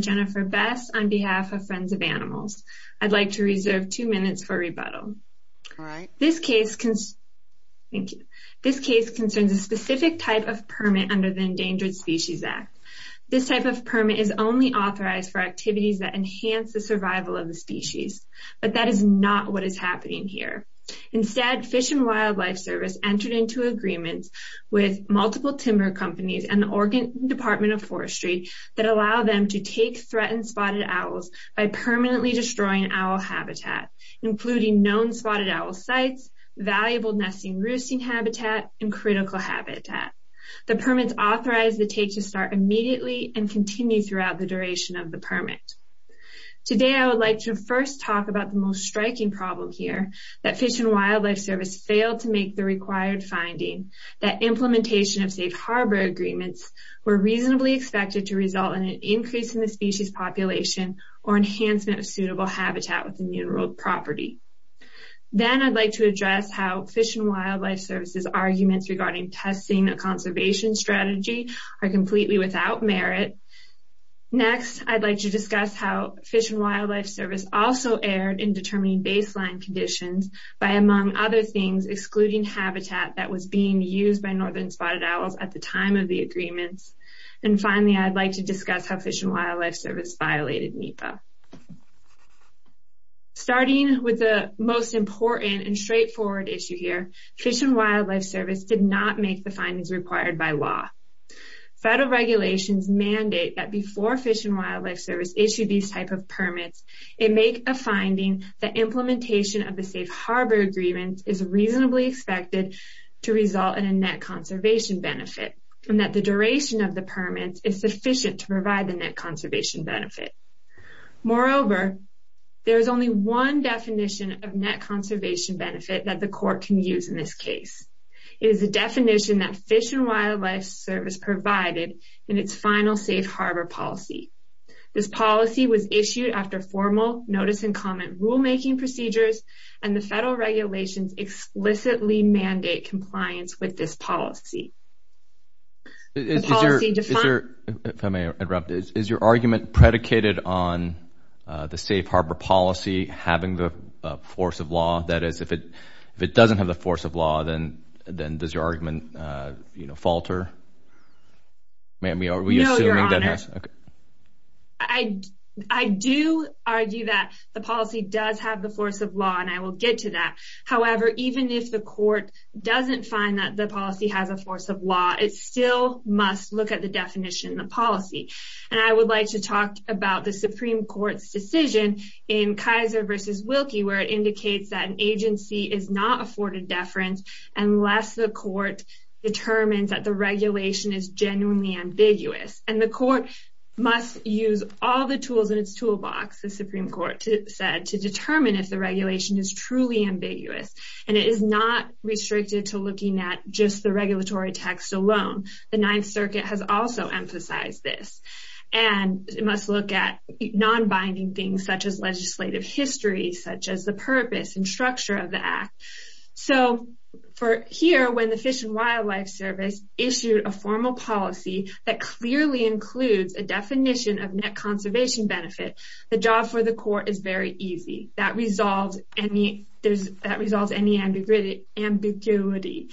Jennifer Bess on behalf of Friends of Animals The FWS entered into agreements with multiple timber companies and the Oregon Department of Forestry that allow them to take threatened spotted owls by permanently destroying owl habitat, including known spotted owl sites, valuable nesting roosting habitat, and critical habitat. The permits authorized the take to start immediately and continue throughout the duration of the permit. Today I would like to first talk about the most striking problem here, that FWS failed to make the required finding that implementation of Safe Harbor Agreements were reasonably expected to result in an increase in the species population or enhancement of suitable habitat within the enrolled property. Then I'd like to address how FWS's arguments regarding testing a conservation strategy are completely without merit. Next, I'd like to discuss how FWS also erred in determining baseline conditions by, among other things, excluding habitat that was being used by northern spotted owls at the time of the agreements. And finally, I'd like to discuss how FWS violated NEPA. Starting with the most important and straightforward issue here, FWS did not make the findings required by law. Federal regulations mandate that before FWS issued these type of permits, it make a finding that implementation of the Safe Harbor Agreements is reasonably expected to result in a net conservation benefit, and that the duration of the permit is sufficient to provide the net conservation benefit. Moreover, there is only one definition of net conservation benefit that the court can use in this case. It is the definition that Fish and Wildlife Service provided in its final Safe Harbor policy. This policy was issued after formal notice and comment rulemaking procedures, and the federal regulations explicitly mandate compliance with this policy. If I may interrupt, is your argument predicated on the Safe Harbor policy having the force of law? That is, if it doesn't have the force of law, then does your argument, you know, falter? No, Your Honor. I do argue that the policy does have the force of law, and I will get to that. However, even if the court doesn't find that the policy has a force of law, it still must look at the definition in the policy. And I would like to talk about the Supreme Court's decision in Kaiser v. Wilkie where it indicates that an agency is not afforded deference unless the court determines that the regulation is genuinely ambiguous. And the court must use all the tools in its toolbox, the Supreme Court said, to determine if the regulation is truly ambiguous. And it is not restricted to looking at just the regulatory text alone. The Ninth Circuit has also emphasized this. And it must look at non-binding things such as legislative history, such as the purpose and structure of the act. So, here, when the Fish and Wildlife Service issued a formal policy that clearly includes a definition of net conservation benefit, the job for the court is very easy. That resolves any ambiguity.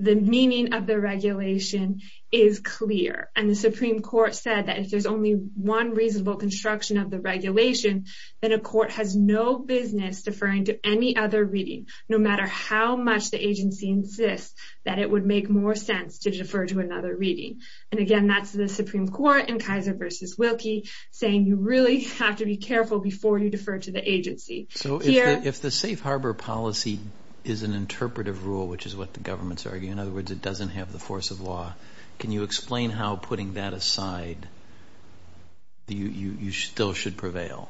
The meaning of the regulation is clear. And the Supreme Court said that if there's only one reasonable construction of the regulation, then a court has no business deferring to any other reading, no matter how much the agency insists that it would make more sense to defer to another reading. And, again, that's the Supreme Court in Kaiser v. Wilkie saying you really have to be careful before you defer to the agency. So, if the safe harbor policy is an interpretive rule, which is what the government's arguing, in other words, it doesn't have the force of law, can you explain how, putting that aside, you still should prevail?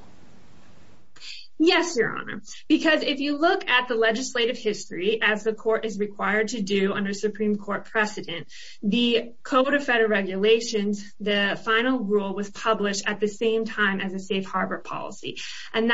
Yes, Your Honor. Because if you look at the legislative history, as the court is required to do under Supreme Court precedent, the Code of Federal Regulations, the final rule was published at the same time as a safe harbor policy. And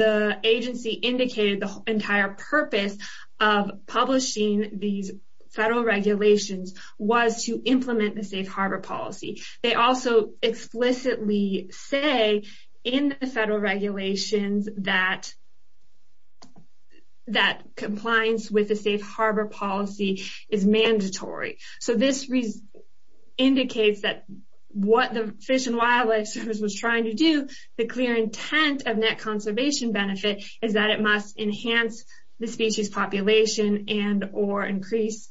the agency indicated the entire purpose of publishing these federal regulations was to implement the safe harbor policy. They also explicitly say in the federal regulations that compliance with the safe harbor policy is mandatory. So, this indicates that what the Fish and Wildlife Service was trying to do, the clear intent of net conservation benefit, is that it must enhance the species population and or increase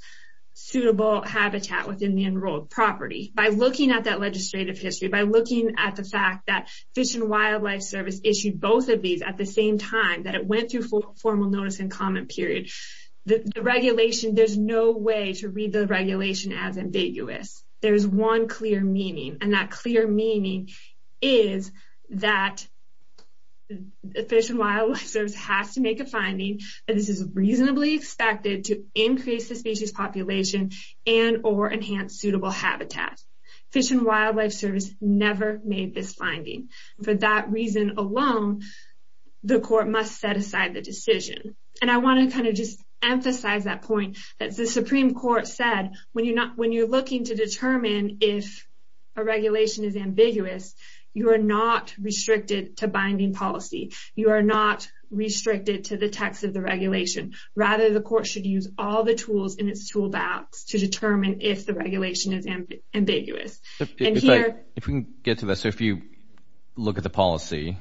suitable habitat within the enrolled property. By looking at that legislative history, by looking at the fact that Fish and Wildlife Service issued both of these at the same time, that it went through formal notice and comment period, the regulation, there's no way to read the regulation as ambiguous. There's one clear meaning, and that clear meaning is that Fish and Wildlife Service has to make a finding that this is reasonably expected to increase the species population and or enhance suitable habitat. Fish and Wildlife Service never made this finding. For that reason alone, the court must set aside the decision. And I want to kind of just emphasize that point that the Supreme Court said when you're looking to determine if a regulation is ambiguous, you are not restricted to binding policy. You are not restricted to the text of the regulation. Rather, the court should use all the tools in its toolbox to determine if the regulation is ambiguous. If we can get to this. If you look at the policy,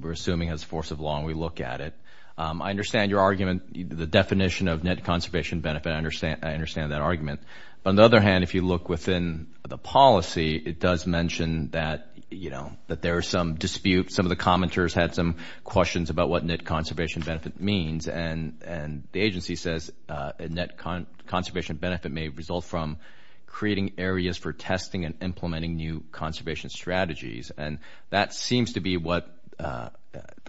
we're assuming as force of law, we look at it. I understand your argument, the definition of net conservation benefit. I understand that argument. On the other hand, if you look within the policy, it does mention that there are some disputes. Some of the commenters had some questions about what net conservation benefit means. And the agency says a net conservation benefit may result from creating areas for testing and implementing new conservation strategies. And that seems to be what the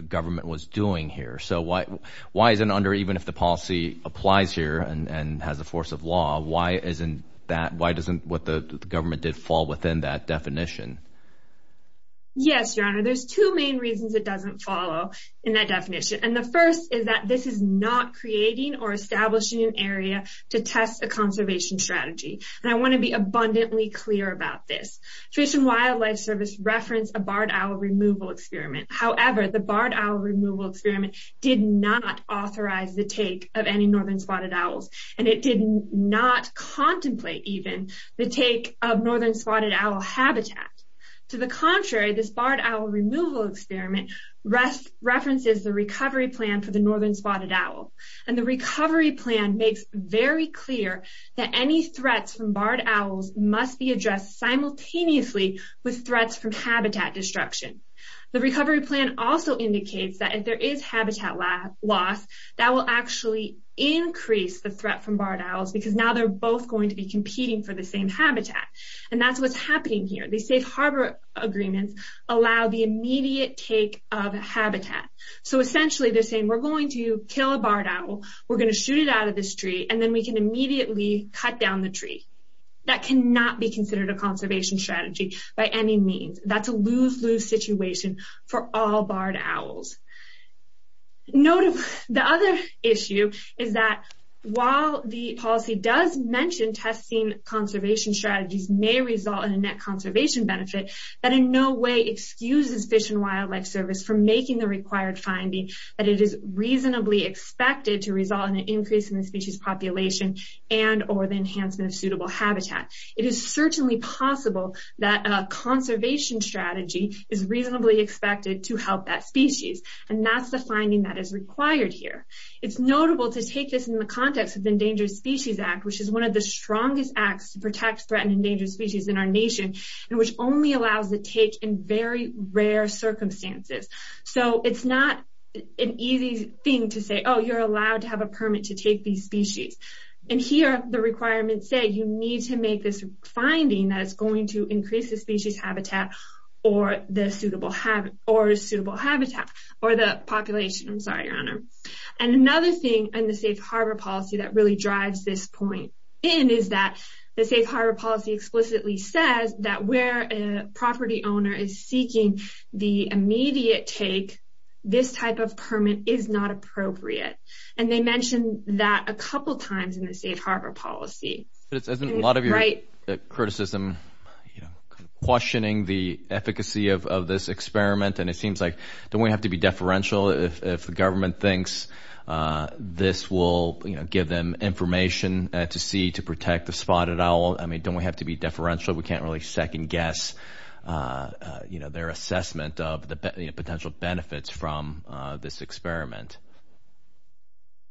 government was doing here. So why is it under even if the policy applies here and has a force of law? Why isn't that? Why doesn't what the government did fall within that definition? Yes, Your Honor. There's two main reasons it doesn't follow in that definition. And the first is that this is not creating or establishing an area to test a conservation strategy. And I want to be abundantly clear about this. Fish and Wildlife Service referenced a barred owl removal experiment. However, the barred owl removal experiment did not authorize the take of any northern spotted owls. And it did not contemplate even the take of northern spotted owl habitat. To the contrary, this barred owl removal experiment references the recovery plan for the northern spotted owl. And the recovery plan makes very clear that any threats from barred owls must be addressed simultaneously with threats from habitat destruction. The recovery plan also indicates that if there is habitat loss, that will actually increase the threat from barred owls because now they're both going to be competing for the same habitat. And that's what's happening here. These safe harbor agreements allow the immediate take of habitat. So essentially they're saying we're going to kill a barred owl, we're going to shoot it out of this tree, and then we can immediately cut down the tree. That cannot be considered a conservation strategy by any means. That's a lose-lose situation for all barred owls. The other issue is that while the policy does mention testing conservation strategies may result in a net conservation benefit, that in no way excuses Fish and Wildlife Service for making the required finding that it is reasonably expected to result in an increase in the species population and or the enhancement of suitable habitat. It is certainly possible that a conservation strategy is reasonably expected to help that species. And that's the finding that is required here. It's notable to take this in the context of the Endangered Species Act, which is one of the strongest acts to protect threatened endangered species in our nation, and which only allows the take in very rare circumstances. So it's not an easy thing to say, oh, you're allowed to have a permit to take these species. And here the requirements say you need to make this finding that it's going to increase the species habitat or the suitable habitat or the population. I'm sorry, Your Honor. And another thing in the Safe Harbor Policy that really drives this point in is that the Safe Harbor Policy explicitly says that where a property owner is seeking the immediate take, this type of permit is not appropriate. And they mentioned that a couple times in the Safe Harbor Policy. But isn't a lot of your criticism questioning the efficacy of this experiment? And it seems like don't we have to be deferential if the government thinks this will give them information to see to protect the spotted owl? I mean, don't we have to be deferential? We can't really second guess their assessment of the potential benefits from this experiment.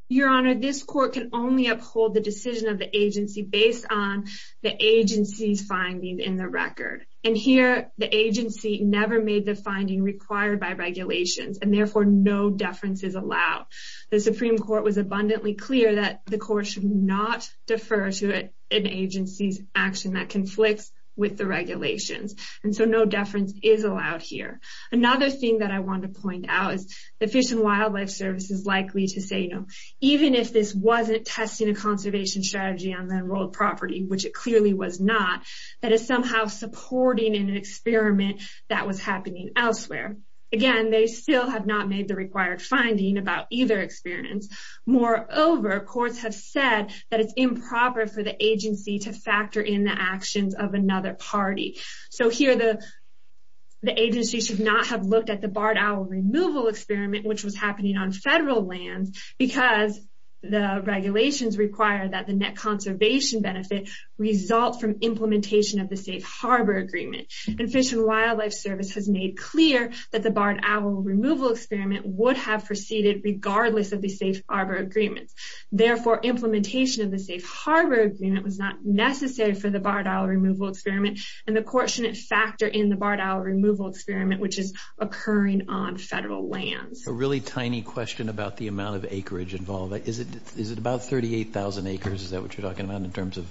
Your Honor, this court can only uphold the decision of the agency based on the agency's findings in the record. And here the agency never made the finding required by regulations and therefore no deference is allowed. The Supreme Court was abundantly clear that the court should not defer to an agency's action that conflicts with the regulations. And so no deference is allowed here. Another thing that I want to point out is the Fish and Wildlife Service is likely to say, you know, even if this wasn't testing a conservation strategy on the enrolled property, which it clearly was not, that it's somehow supporting an experiment that was happening elsewhere. Again, they still have not made the required finding about either experience. Moreover, courts have said that it's improper for the agency to factor in the actions of another party. So here the agency should not have looked at the barred owl removal experiment, which was happening on federal land, because the regulations require that the net conservation benefit result from implementation of the Safe Harbor Agreement. And Fish and Wildlife Service has made clear that the barred owl removal experiment would have proceeded regardless of the Safe Harbor Agreement. Therefore, implementation of the Safe Harbor Agreement was not necessary for the barred owl removal experiment, and the court shouldn't factor in the barred owl removal experiment, which is occurring on federal land. A really tiny question about the amount of acreage involved. Is it about 38,000 acres? Is that what you're talking about in terms of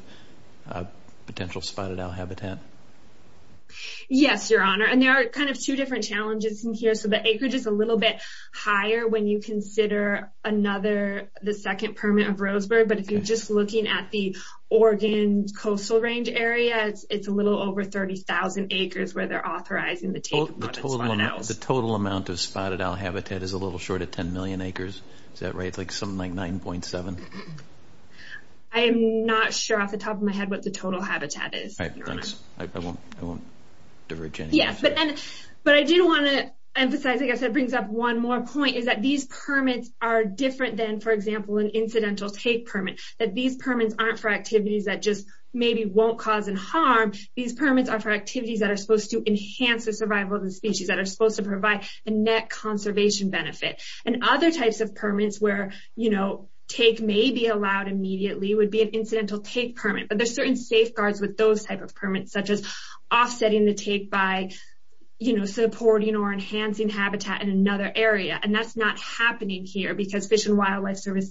potential spotted owl habitat? Yes, Your Honor. And there are kind of two different challenges in here. So the acreage is a little bit higher when you consider another, the second permit of Roseburg. But if you're just looking at the Oregon coastal range area, it's a little over 30,000 acres where they're authorizing the take of spotted owls. So the total amount of spotted owl habitat is a little short of 10 million acres? Is that right? Like something like 9.7? I'm not sure off the top of my head what the total habitat is. All right, thanks. I won't diverge any further. But I do want to emphasize, like I said, brings up one more point, is that these permits are different than, for example, an incidental take permit. That these permits aren't for activities that just maybe won't cause any harm. These permits are for activities that are supposed to enhance the survival of the species, that are supposed to provide a net conservation benefit. And other types of permits where, you know, take may be allowed immediately would be an incidental take permit. But there's certain safeguards with those type of permits, such as offsetting the take by, you know, supporting or enhancing habitat in another area. And that's not happening here because Fish and Wildlife Service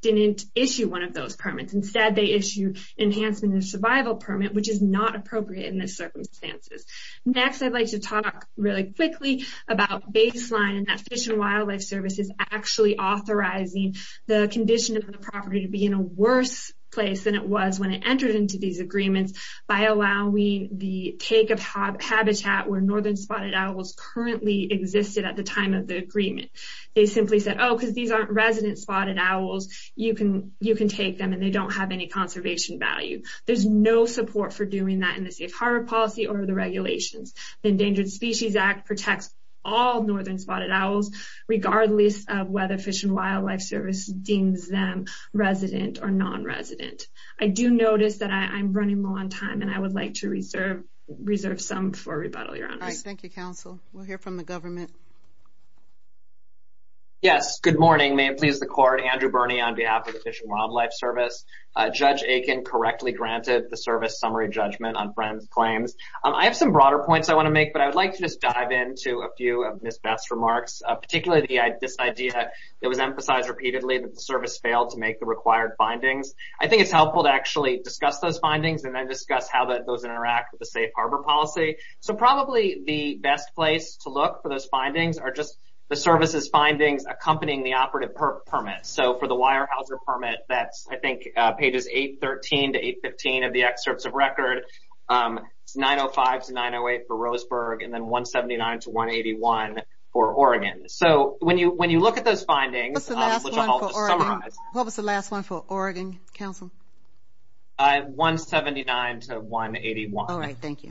didn't issue one of those permits. Instead, they issued enhancement of survival permit, which is not appropriate in this circumstances. Next, I'd like to talk really quickly about baseline and that Fish and Wildlife Service is actually authorizing the condition of the property to be in a worse place than it was when it entered into these agreements by allowing the take of habitat where northern spotted owls currently existed at the time of the agreement. They simply said, oh, because these aren't resident spotted owls, you can take them, and they don't have any conservation value. There's no support for doing that in the safe harbor policy or the regulations. The Endangered Species Act protects all northern spotted owls, regardless of whether Fish and Wildlife Service deems them resident or nonresident. I do notice that I'm running low on time, and I would like to reserve some for rebuttal, Your Honors. All right, thank you, Counsel. We'll hear from the government. Yes, good morning. May it please the Court. Andrew Birney on behalf of the Fish and Wildlife Service. Judge Aiken correctly granted the service summary judgment on Friend's claims. I have some broader points I want to make, but I would like to just dive into a few of Ms. Beth's remarks, particularly this idea that was emphasized repeatedly that the service failed to make the required findings. I think it's helpful to actually discuss those findings and then discuss how those interact with the safe harbor policy. So probably the best place to look for those findings are just the service's findings accompanying the operative permit. So for the Weyerhaeuser permit, that's, I think, pages 813 to 815 of the excerpts of record, 905 to 908 for Roseburg, and then 179 to 181 for Oregon. So when you look at those findings, which I'll just summarize. What was the last one for Oregon, Counsel? 179 to 181. All right, thank you.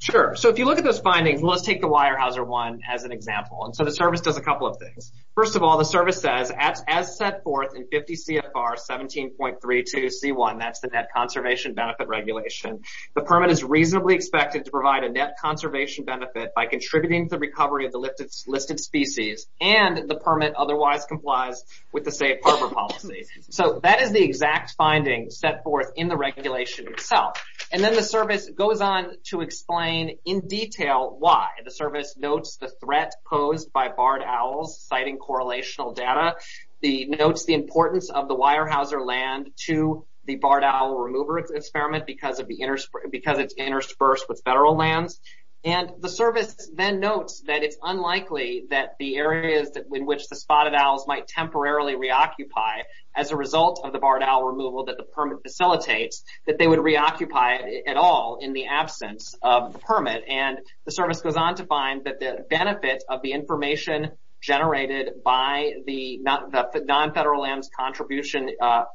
Sure. So if you look at those findings, let's take the Weyerhaeuser one as an example. So the service does a couple of things. First of all, the service says, as set forth in 50 CFR 17.32C1, that's the Net Conservation Benefit Regulation, the permit is reasonably expected to provide a net conservation benefit by contributing to the recovery of the listed species, and the permit otherwise complies with the safe harbor policy. So that is the exact finding set forth in the regulation itself. And then the service goes on to explain in detail why. The service notes the threat posed by barred owls, citing correlational data. It notes the importance of the Weyerhaeuser land to the barred owl remover experiment because it's interspersed with federal lands. And the service then notes that it's unlikely that the areas in which the spotted owls might temporarily reoccupy as a result of the barred owl removal that the permit facilitates, that they would reoccupy at all in the absence of the permit. And the service goes on to find that the benefit of the information generated by the non-federal lands contribution,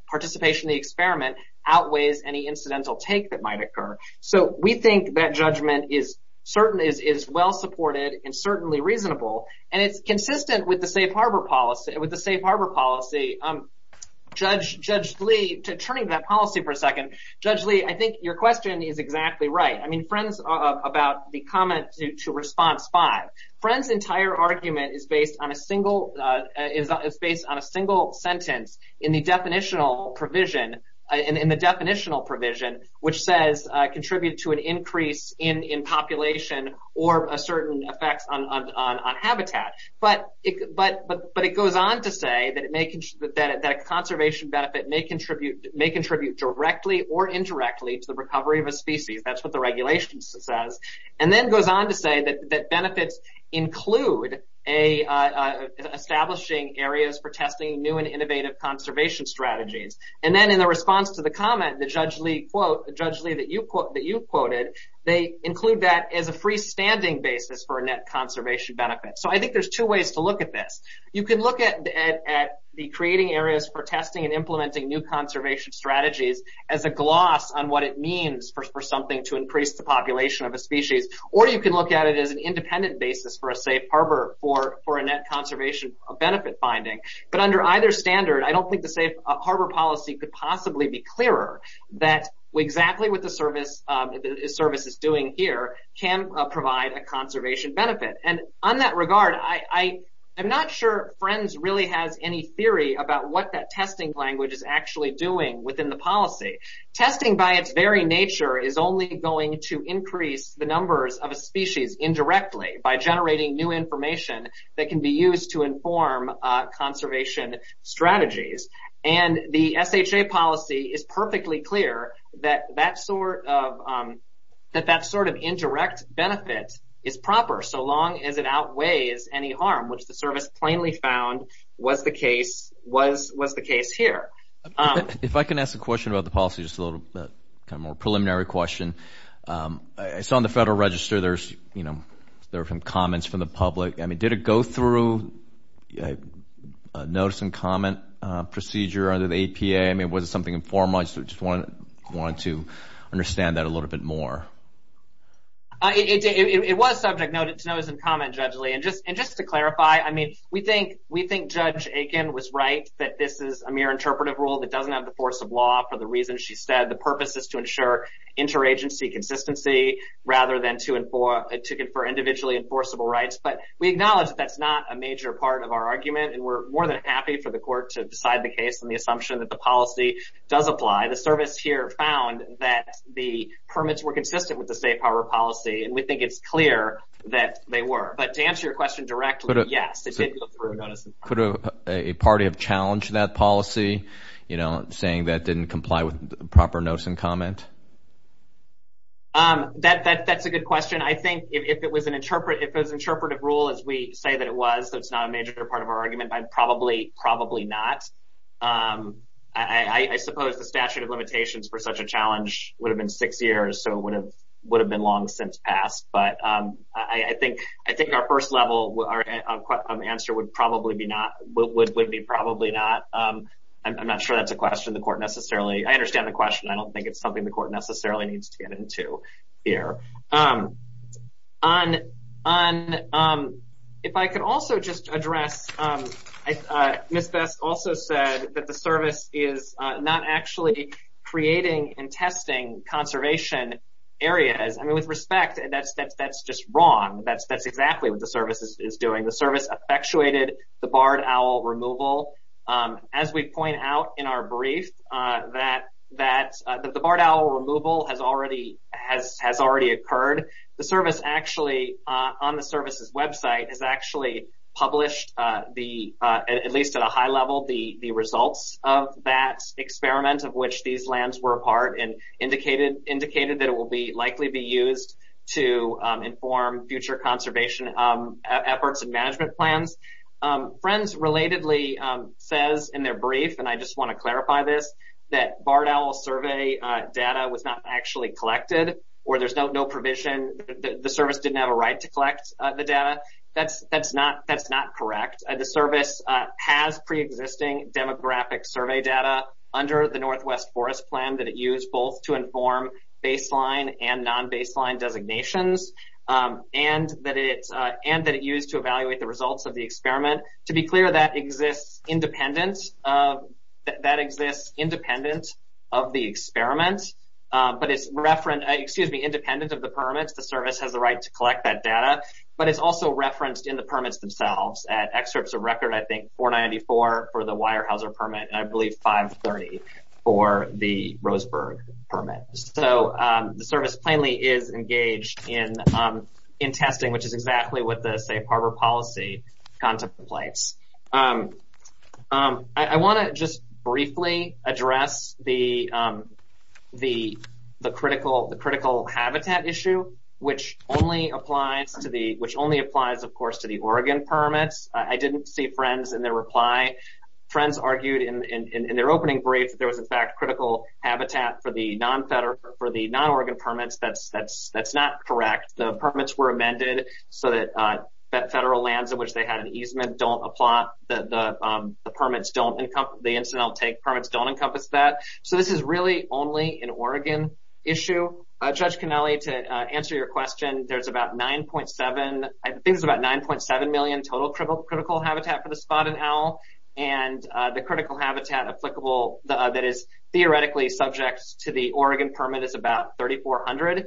participation in the experiment, outweighs any incidental take that might occur. So we think that judgment is well supported and certainly reasonable, and it's consistent with the safe harbor policy. Judge Lee, turning to that policy for a second. Judge Lee, I think your question is exactly right. I mean, friends, about the comment to response five. Friends' entire argument is based on a single sentence in the definitional provision, in the definitional provision, which says contribute to an increase in population or a certain effect on habitat. But it goes on to say that a conservation benefit may contribute directly or indirectly to the recovery of a species. That's what the regulation says. And then goes on to say that benefits include establishing areas for testing new and innovative conservation strategies. And then in the response to the comment that Judge Lee quoted, they include that as a freestanding basis for a net conservation benefit. So I think there's two ways to look at this. You can look at the creating areas for testing and implementing new conservation strategies as a gloss on what it means for something to increase the population of a species. Or you can look at it as an independent basis for a safe harbor for a net conservation benefit finding. But under either standard, I don't think the safe harbor policy could possibly be clearer that exactly what the service is doing here can provide a conservation benefit. And on that regard, I'm not sure Friends really has any theory about what that testing language is actually doing within the policy. Testing by its very nature is only going to increase the numbers of a species indirectly by generating new information that can be used to inform conservation strategies. And the SHA policy is perfectly clear that that sort of indirect benefit is proper so long as it outweighs any harm, which the service plainly found was the case here. If I can ask a question about the policy, just a little kind of more preliminary question. I saw on the Federal Register there were some comments from the public. I mean, did it go through a notice and comment procedure under the APA? I mean, was it something informal? I just wanted to understand that a little bit more. It was subject to notice and comment, Judge Lee. And just to clarify, I mean, we think Judge Aiken was right that this is a mere interpretive rule that doesn't have the force of law for the reasons she said. The purpose is to ensure interagency consistency rather than to confer individually enforceable rights. But we acknowledge that that's not a major part of our argument, and we're more than happy for the court to decide the case on the assumption that the policy does apply. The service here found that the permits were consistent with the State Power Policy, and we think it's clear that they were. But to answer your question directly, yes, it did go through a notice and comment. Could a party have challenged that policy, you know, saying that it didn't comply with proper notice and comment? That's a good question. I think if it was an interpretive rule as we say that it was, that it's not a major part of our argument, probably not. I suppose the statute of limitations for such a challenge would have been six years, so it would have been long since passed. But I think our first level answer would probably be not, would be probably not. I'm not sure that's a question the court necessarily, I understand the question. I don't think it's something the court necessarily needs to get into here. On, if I could also just address, Ms. Best also said that the service is not actually creating and testing conservation areas. I mean, with respect, that's just wrong. That's exactly what the service is doing. The service effectuated the barred owl removal. As we point out in our brief, that the barred owl removal has already occurred. The service actually, on the service's website, has actually published the, at least at a high level, the results of that experiment of which these lands were part, and indicated that it will likely be used to inform future conservation efforts and management plans. Friends relatedly says in their brief, and I just want to clarify this, that barred owl survey data was not actually collected, or there's no provision, the service didn't have a right to collect the data. That's not correct. The service has pre-existing demographic survey data under the Northwest Forest Plan that it used both to inform baseline and non-baseline designations, and that it used to evaluate the results of the experiment. To be clear, that exists independent of the experiment, but it's, excuse me, independent of the permits. The service has the right to collect that data, but it's also referenced in the permits themselves. At excerpts of record, I think 494 for the Weyerhaeuser permit, and I believe 530 for the Roseburg permit. So the service plainly is engaged in testing, which is exactly what the Safe Harbor Policy contemplates. I want to just briefly address the critical habitat issue, which only applies, of course, to the Oregon permits. I didn't see Friends in their reply. Friends argued in their opening brief that there was, in fact, critical habitat for the non-Oregon permits. That's not correct. The permits were amended so that federal lands in which they had an easement don't apply. The incidental take permits don't encompass that. So this is really only an Oregon issue. Judge Cannelli, to answer your question, there's about 9.7 million total critical habitat for the Spotted Owl, and the critical habitat applicable that is theoretically subject to the Oregon permit is about 3,400.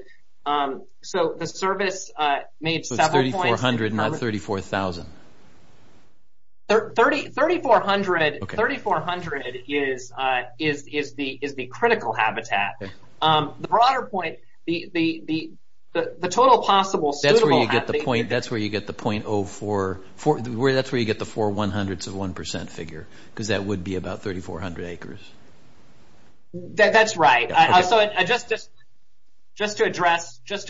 So the service made several points. So it's 3,400, not 34,000. 3,400 is the critical habitat. The broader point, the total possible suitable habitat. That's where you get the .04, that's where you get the four 100s of 1% figure, because that would be about 3,400 acres. That's right. So just to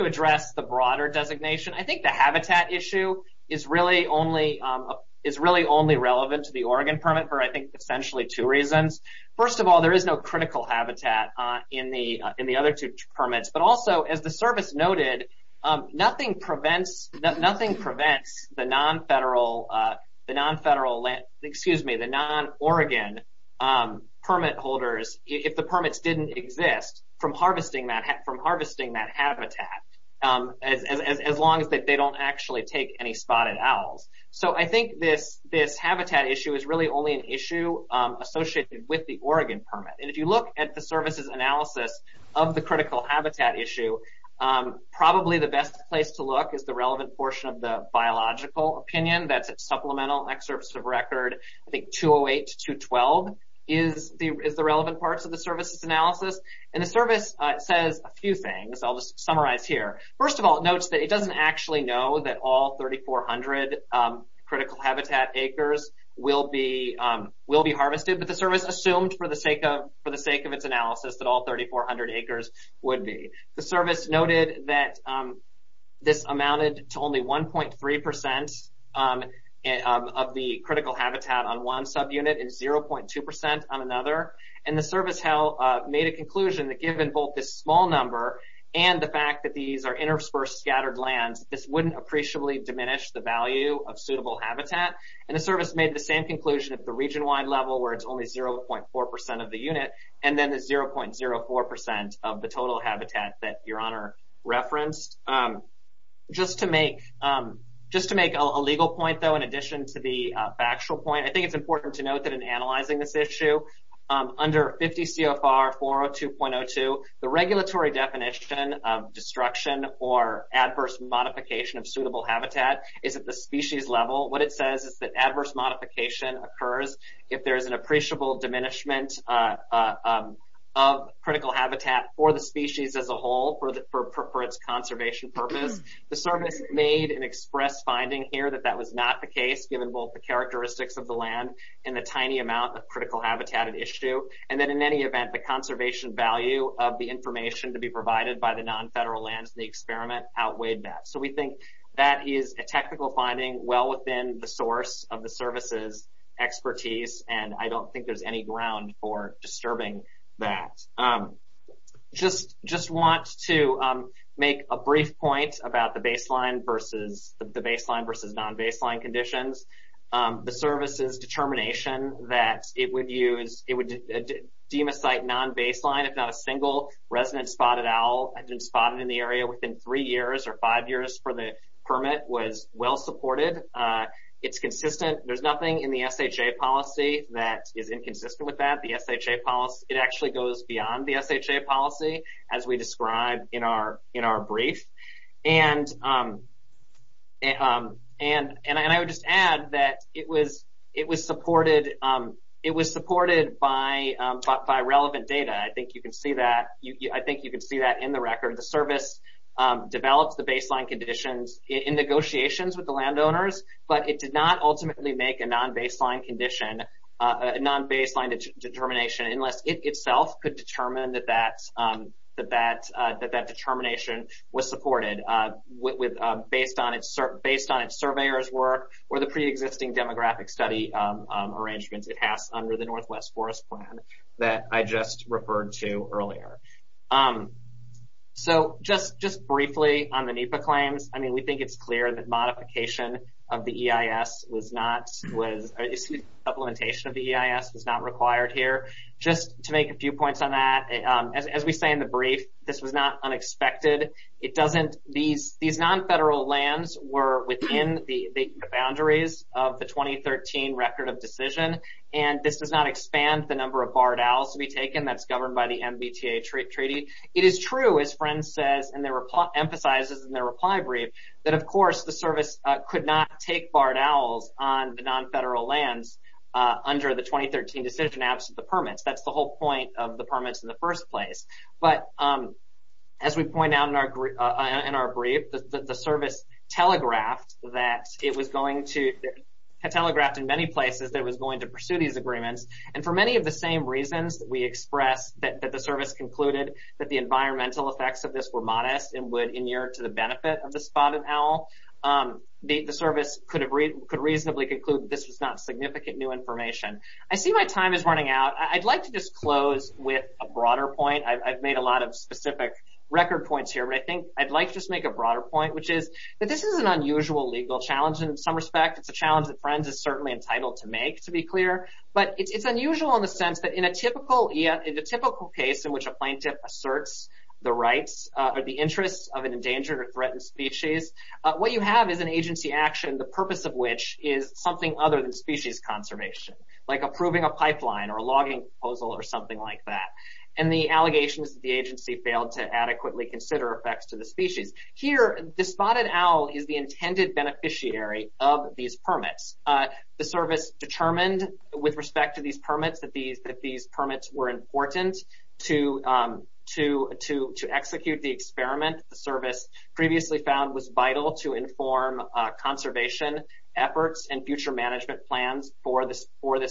address the broader designation, I think the habitat issue is really only relevant to the Oregon permit for, I think, essentially two reasons. First of all, there is no critical habitat in the other two permits. But also, as the service noted, nothing prevents the non-Oregon permit holders, if the permits didn't exist, from harvesting that habitat as long as they don't actually take any Spotted Owls. So I think this habitat issue is really only an issue associated with the Oregon permit. And if you look at the service's analysis of the critical habitat issue, probably the best place to look is the relevant portion of the biological opinion. That's at Supplemental Excerpts of Record, I think, 208 to 212 is the relevant parts of the service's analysis. And the service says a few things. I'll just summarize here. First of all, it notes that it doesn't actually know that all 3,400 critical habitat acres will be harvested. But the service assumed, for the sake of its analysis, that all 3,400 acres would be. The service noted that this amounted to only 1.3% of the critical habitat on one subunit and 0.2% on another. And the service made a conclusion that given both this small number and the fact that these are interspersed scattered lands, this wouldn't appreciably diminish the value of suitable habitat. And the service made the same conclusion at the region-wide level where it's only 0.4% of the unit and then the 0.04% of the total habitat that Your Honor referenced. Just to make a legal point, though, in addition to the factual point, I think it's important to note that in analyzing this issue, under 50 CFR 402.02, the regulatory definition of destruction or adverse modification of suitable habitat is at the species level. What it says is that adverse modification occurs if there is an appreciable diminishment of critical habitat for the species as a whole, for its conservation purpose. The service made an express finding here that that was not the case, given both the characteristics of the land and the tiny amount of critical habitat at issue. And then in any event, the conservation value of the information to be provided by the non-federal lands in the experiment outweighed that. So we think that is a technical finding well within the source of the service's expertise, and I don't think there's any ground for disturbing that. Just want to make a brief point about the baseline versus non-baseline conditions. The service's determination that it would deem a site non-baseline if not a single resident spotted owl had been spotted in the area within three years or five years for the permit was well supported. It's consistent. There's nothing in the SHA policy that is inconsistent with that. It actually goes beyond the SHA policy, as we described in our brief. And I would just add that it was supported by relevant data. I think you can see that in the record. The service developed the baseline conditions in negotiations with the landowners, but it did not ultimately make a non-baseline condition, a non-baseline determination, unless it itself could determine that that determination was supported based on its surveyor's work or the preexisting demographic study arrangements it has under the Northwest Forest Plan that I just referred to earlier. So just briefly on the NEPA claims. I mean, we think it's clear that modification of the EIS was not required here. Just to make a few points on that, as we say in the brief, this was not unexpected. These non-federal lands were within the boundaries of the 2013 Record of Decision, and this does not expand the number of barred owls to be taken. That's governed by the MBTA Treaty. It is true, as Friend says and emphasizes in their reply brief, that, of course, the service could not take barred owls on the non-federal lands under the 2013 Decision Absent the Permits. That's the whole point of the permits in the first place. But as we point out in our brief, the service telegraphed that it was going to – and for many of the same reasons that we expressed, that the service concluded that the environmental effects of this were modest and would inure to the benefit of the spotted owl, the service could reasonably conclude that this was not significant new information. I see my time is running out. I'd like to just close with a broader point. I've made a lot of specific record points here, but I think I'd like to just make a broader point, which is that this is an unusual legal challenge in some respect. It's a challenge that Friends is certainly entitled to make, to be clear. But it's unusual in the sense that in a typical case in which a plaintiff asserts the rights or the interests of an endangered or threatened species, what you have is an agency action, the purpose of which is something other than species conservation, like approving a pipeline or a logging proposal or something like that, and the allegations that the agency failed to adequately consider effects to the species. Here, the spotted owl is the intended beneficiary of these permits. The service determined with respect to these permits that these permits were important to execute the experiment. The service previously found was vital to inform conservation efforts and future management plans for this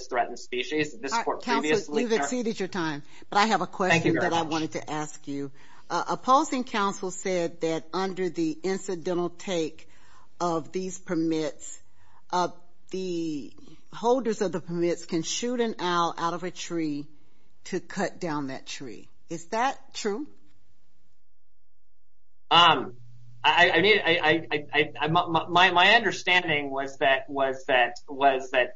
threatened species. Counsel, you've exceeded your time, but I have a question that I wanted to ask you. Thank you very much. Opposing counsel said that under the incidental take of these permits, the holders of the permits can shoot an owl out of a tree to cut down that tree. Is that true? My understanding was that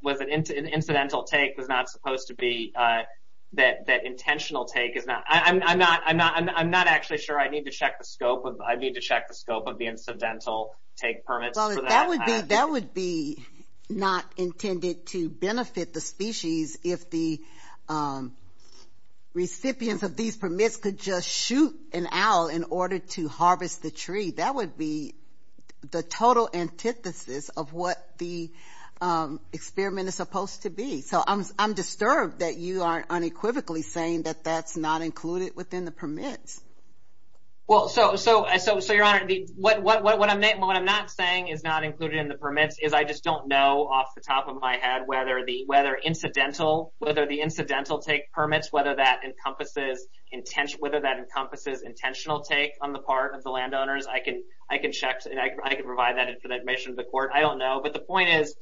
an incidental take was not supposed to be that intentional take. I'm not actually sure. I need to check the scope of the incidental take permits. That would be not intended to benefit the species if the recipients of these permits could just shoot an owl in order to harvest the tree. That would be the total antithesis of what the experiment is supposed to be. I'm disturbed that you are unequivocally saying that that's not included within the permits. Your Honor, what I'm not saying is not included in the permits. I just don't know off the top of my head whether the incidental take permits, whether that encompasses intentional take on the part of the landowners. I can provide that information to the court. I don't know. The point is,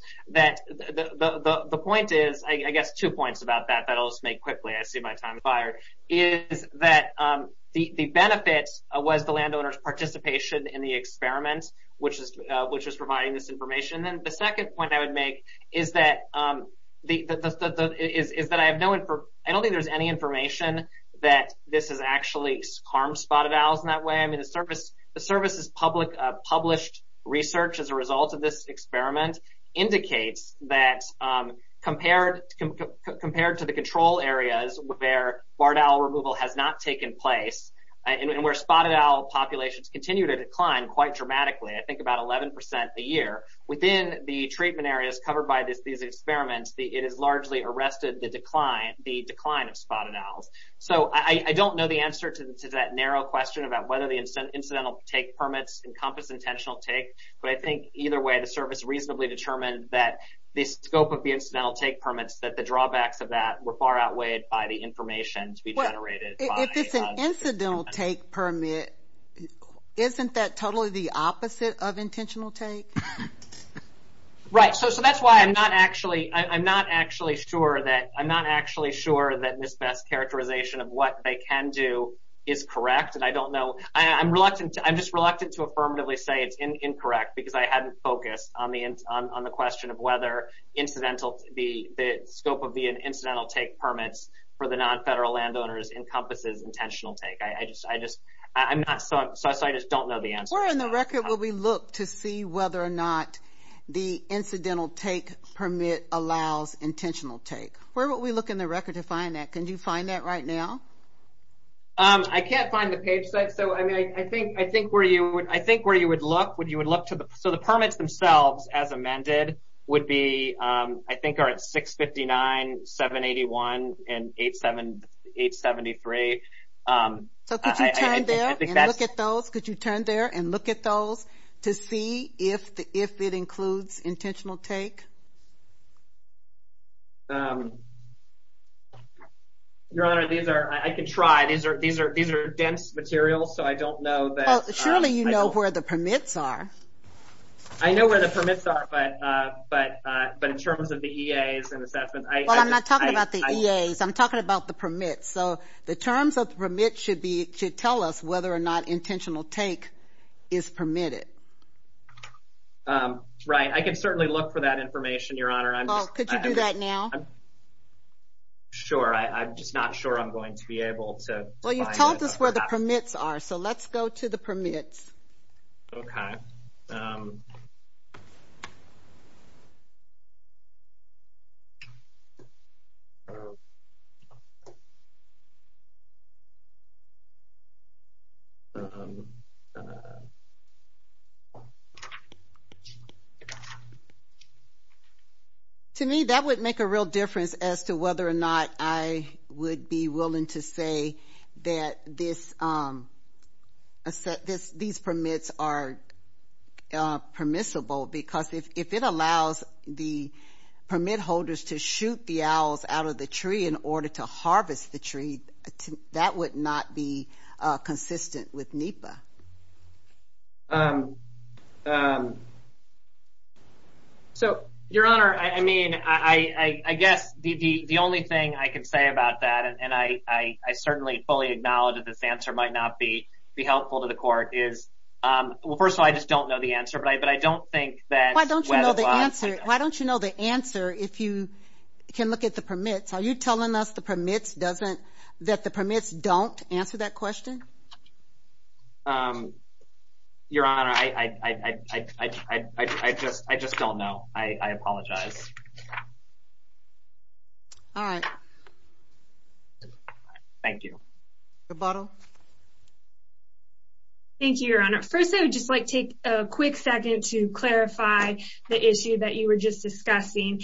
I guess two points about that that I'll just make quickly. I see my time has expired. The benefit was the landowner's participation in the experiment, which was providing this information. The second point I would make is that I don't think there's any information that this has actually harmed spotted owls in that way. The Service's published research as a result of this experiment indicates that compared to the control areas where barred owl removal has not taken place, and where spotted owl populations continue to decline quite dramatically, I think about 11 percent a year, within the treatment areas covered by these experiments, it has largely arrested the decline of spotted owls. I don't know the answer to that narrow question about whether the incidental take permits encompass intentional take, but I think either way the Service reasonably determined that the scope of the incidental take permits, that the drawbacks of that were far outweighed by the information to be generated. If it's an incidental take permit, isn't that totally the opposite of intentional take? Right. So that's why I'm not actually sure that this best characterization of what they can do is correct. And I don't know. I'm just reluctant to affirmatively say it's incorrect because I hadn't focused on the question of whether the scope of the incidental take permits for the nonfederal landowners encompasses intentional take. So I just don't know the answer. Where in the record would we look to see whether or not the incidental take permit allows intentional take? Where would we look in the record to find that? Can you find that right now? I can't find the page set. So I think where you would look, so the permits themselves as amended would be, I think, are at 659, 781, and 873. So could you turn there and look at those? Could you turn there and look at those to see if it includes intentional take? Your Honor, I can try. These are dense materials, so I don't know. Surely you know where the permits are. I know where the permits are, but in terms of the EAs and assessment. Well, I'm not talking about the EAs. I'm talking about the permits. So the terms of the permit should tell us whether or not intentional take is permitted. Right. I can certainly look for that information, Your Honor. Could you do that now? Sure. I'm just not sure I'm going to be able to find it. Well, you've told us where the permits are, so let's go to the permits. Okay. To me, that would make a real difference as to whether or not I would be willing to say that these permits are permissible, because if it allows the permit holders to shoot the owls out of the tree in order to harvest the tree, that would not be consistent with NEPA. So, Your Honor, I mean, I guess the only thing I can say about that, and I certainly fully acknowledge that this answer might not be helpful to the court, is, well, first of all, I just don't know the answer, but I don't think that whether or not… Why don't you know the answer if you can look at the permits? Are you telling us that the permits don't answer that question? Your Honor, I just don't know. I apologize. All right. Thank you. Rebuttal? Thank you, Your Honor. First, I would just like to take a quick second to clarify the issue that you were just discussing.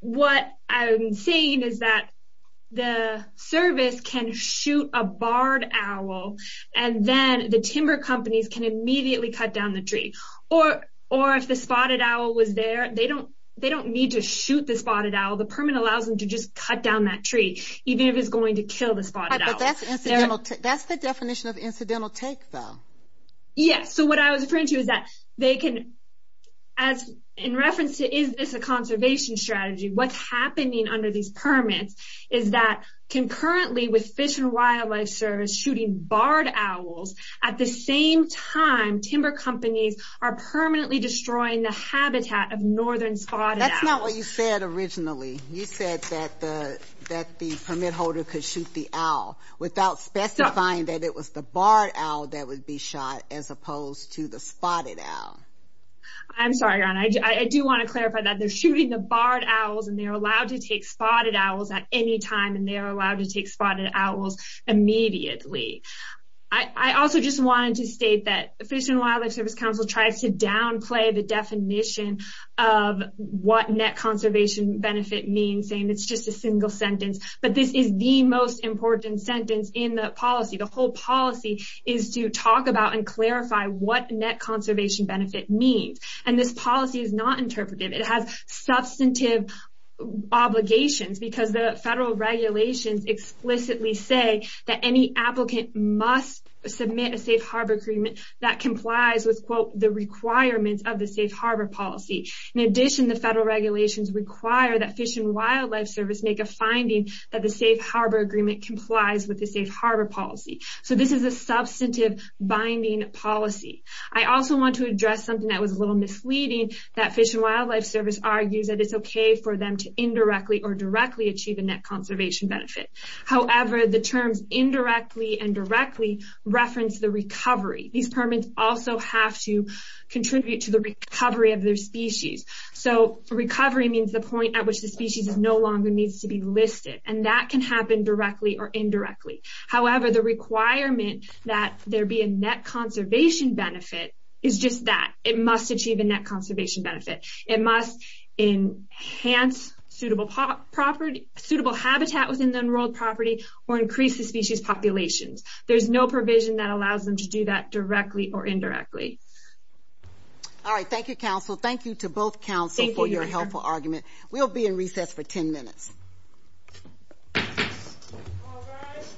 What I'm saying is that the service can shoot a barred owl, and then the timber companies can immediately cut down the tree. Or, if the spotted owl was there, they don't need to shoot the spotted owl. The permit allows them to just cut down that tree, even if it's going to kill the spotted owl. That's the definition of incidental take, though. Yes. So, what I was referring to is that they can… In reference to, is this a conservation strategy, what's happening under these permits is that concurrently with Fish and Wildlife Service shooting barred owls, at the same time, timber companies are permanently destroying the habitat of northern spotted owls. That's not what you said originally. You said that the permit holder could shoot the owl without specifying that it was the shot, as opposed to the spotted owl. I'm sorry, Your Honor. I do want to clarify that. They're shooting the barred owls, and they're allowed to take spotted owls at any time, and they're allowed to take spotted owls immediately. I also just wanted to state that Fish and Wildlife Service Council tries to downplay the definition of what net conservation benefit means, saying it's just a single sentence. But this is the most important sentence in the policy. The purpose of this policy is to talk about and clarify what net conservation benefit means. And this policy is not interpretive. It has substantive obligations, because the federal regulations explicitly say that any applicant must submit a safe harbor agreement that complies with, quote, the requirements of the safe harbor policy. In addition, the federal regulations require that Fish and Wildlife Service make a finding that the safe harbor agreement complies with the safe harbor policy. So this is a substantive binding policy. I also want to address something that was a little misleading, that Fish and Wildlife Service argues that it's okay for them to indirectly or directly achieve a net conservation benefit. However, the terms indirectly and directly reference the recovery. These permits also have to contribute to the recovery of their species. So recovery means the point at which the species no longer needs to be listed. And that can happen directly or indirectly. However, the requirement that there be a net conservation benefit is just that. It must achieve a net conservation benefit. It must enhance suitable habitat within the enrolled property or increase the species populations. There's no provision that allows them to do that directly or indirectly. All right. Thank you, counsel. Thank you to both counsel for your helpful argument. We'll be in recess for 10 minutes. All rise.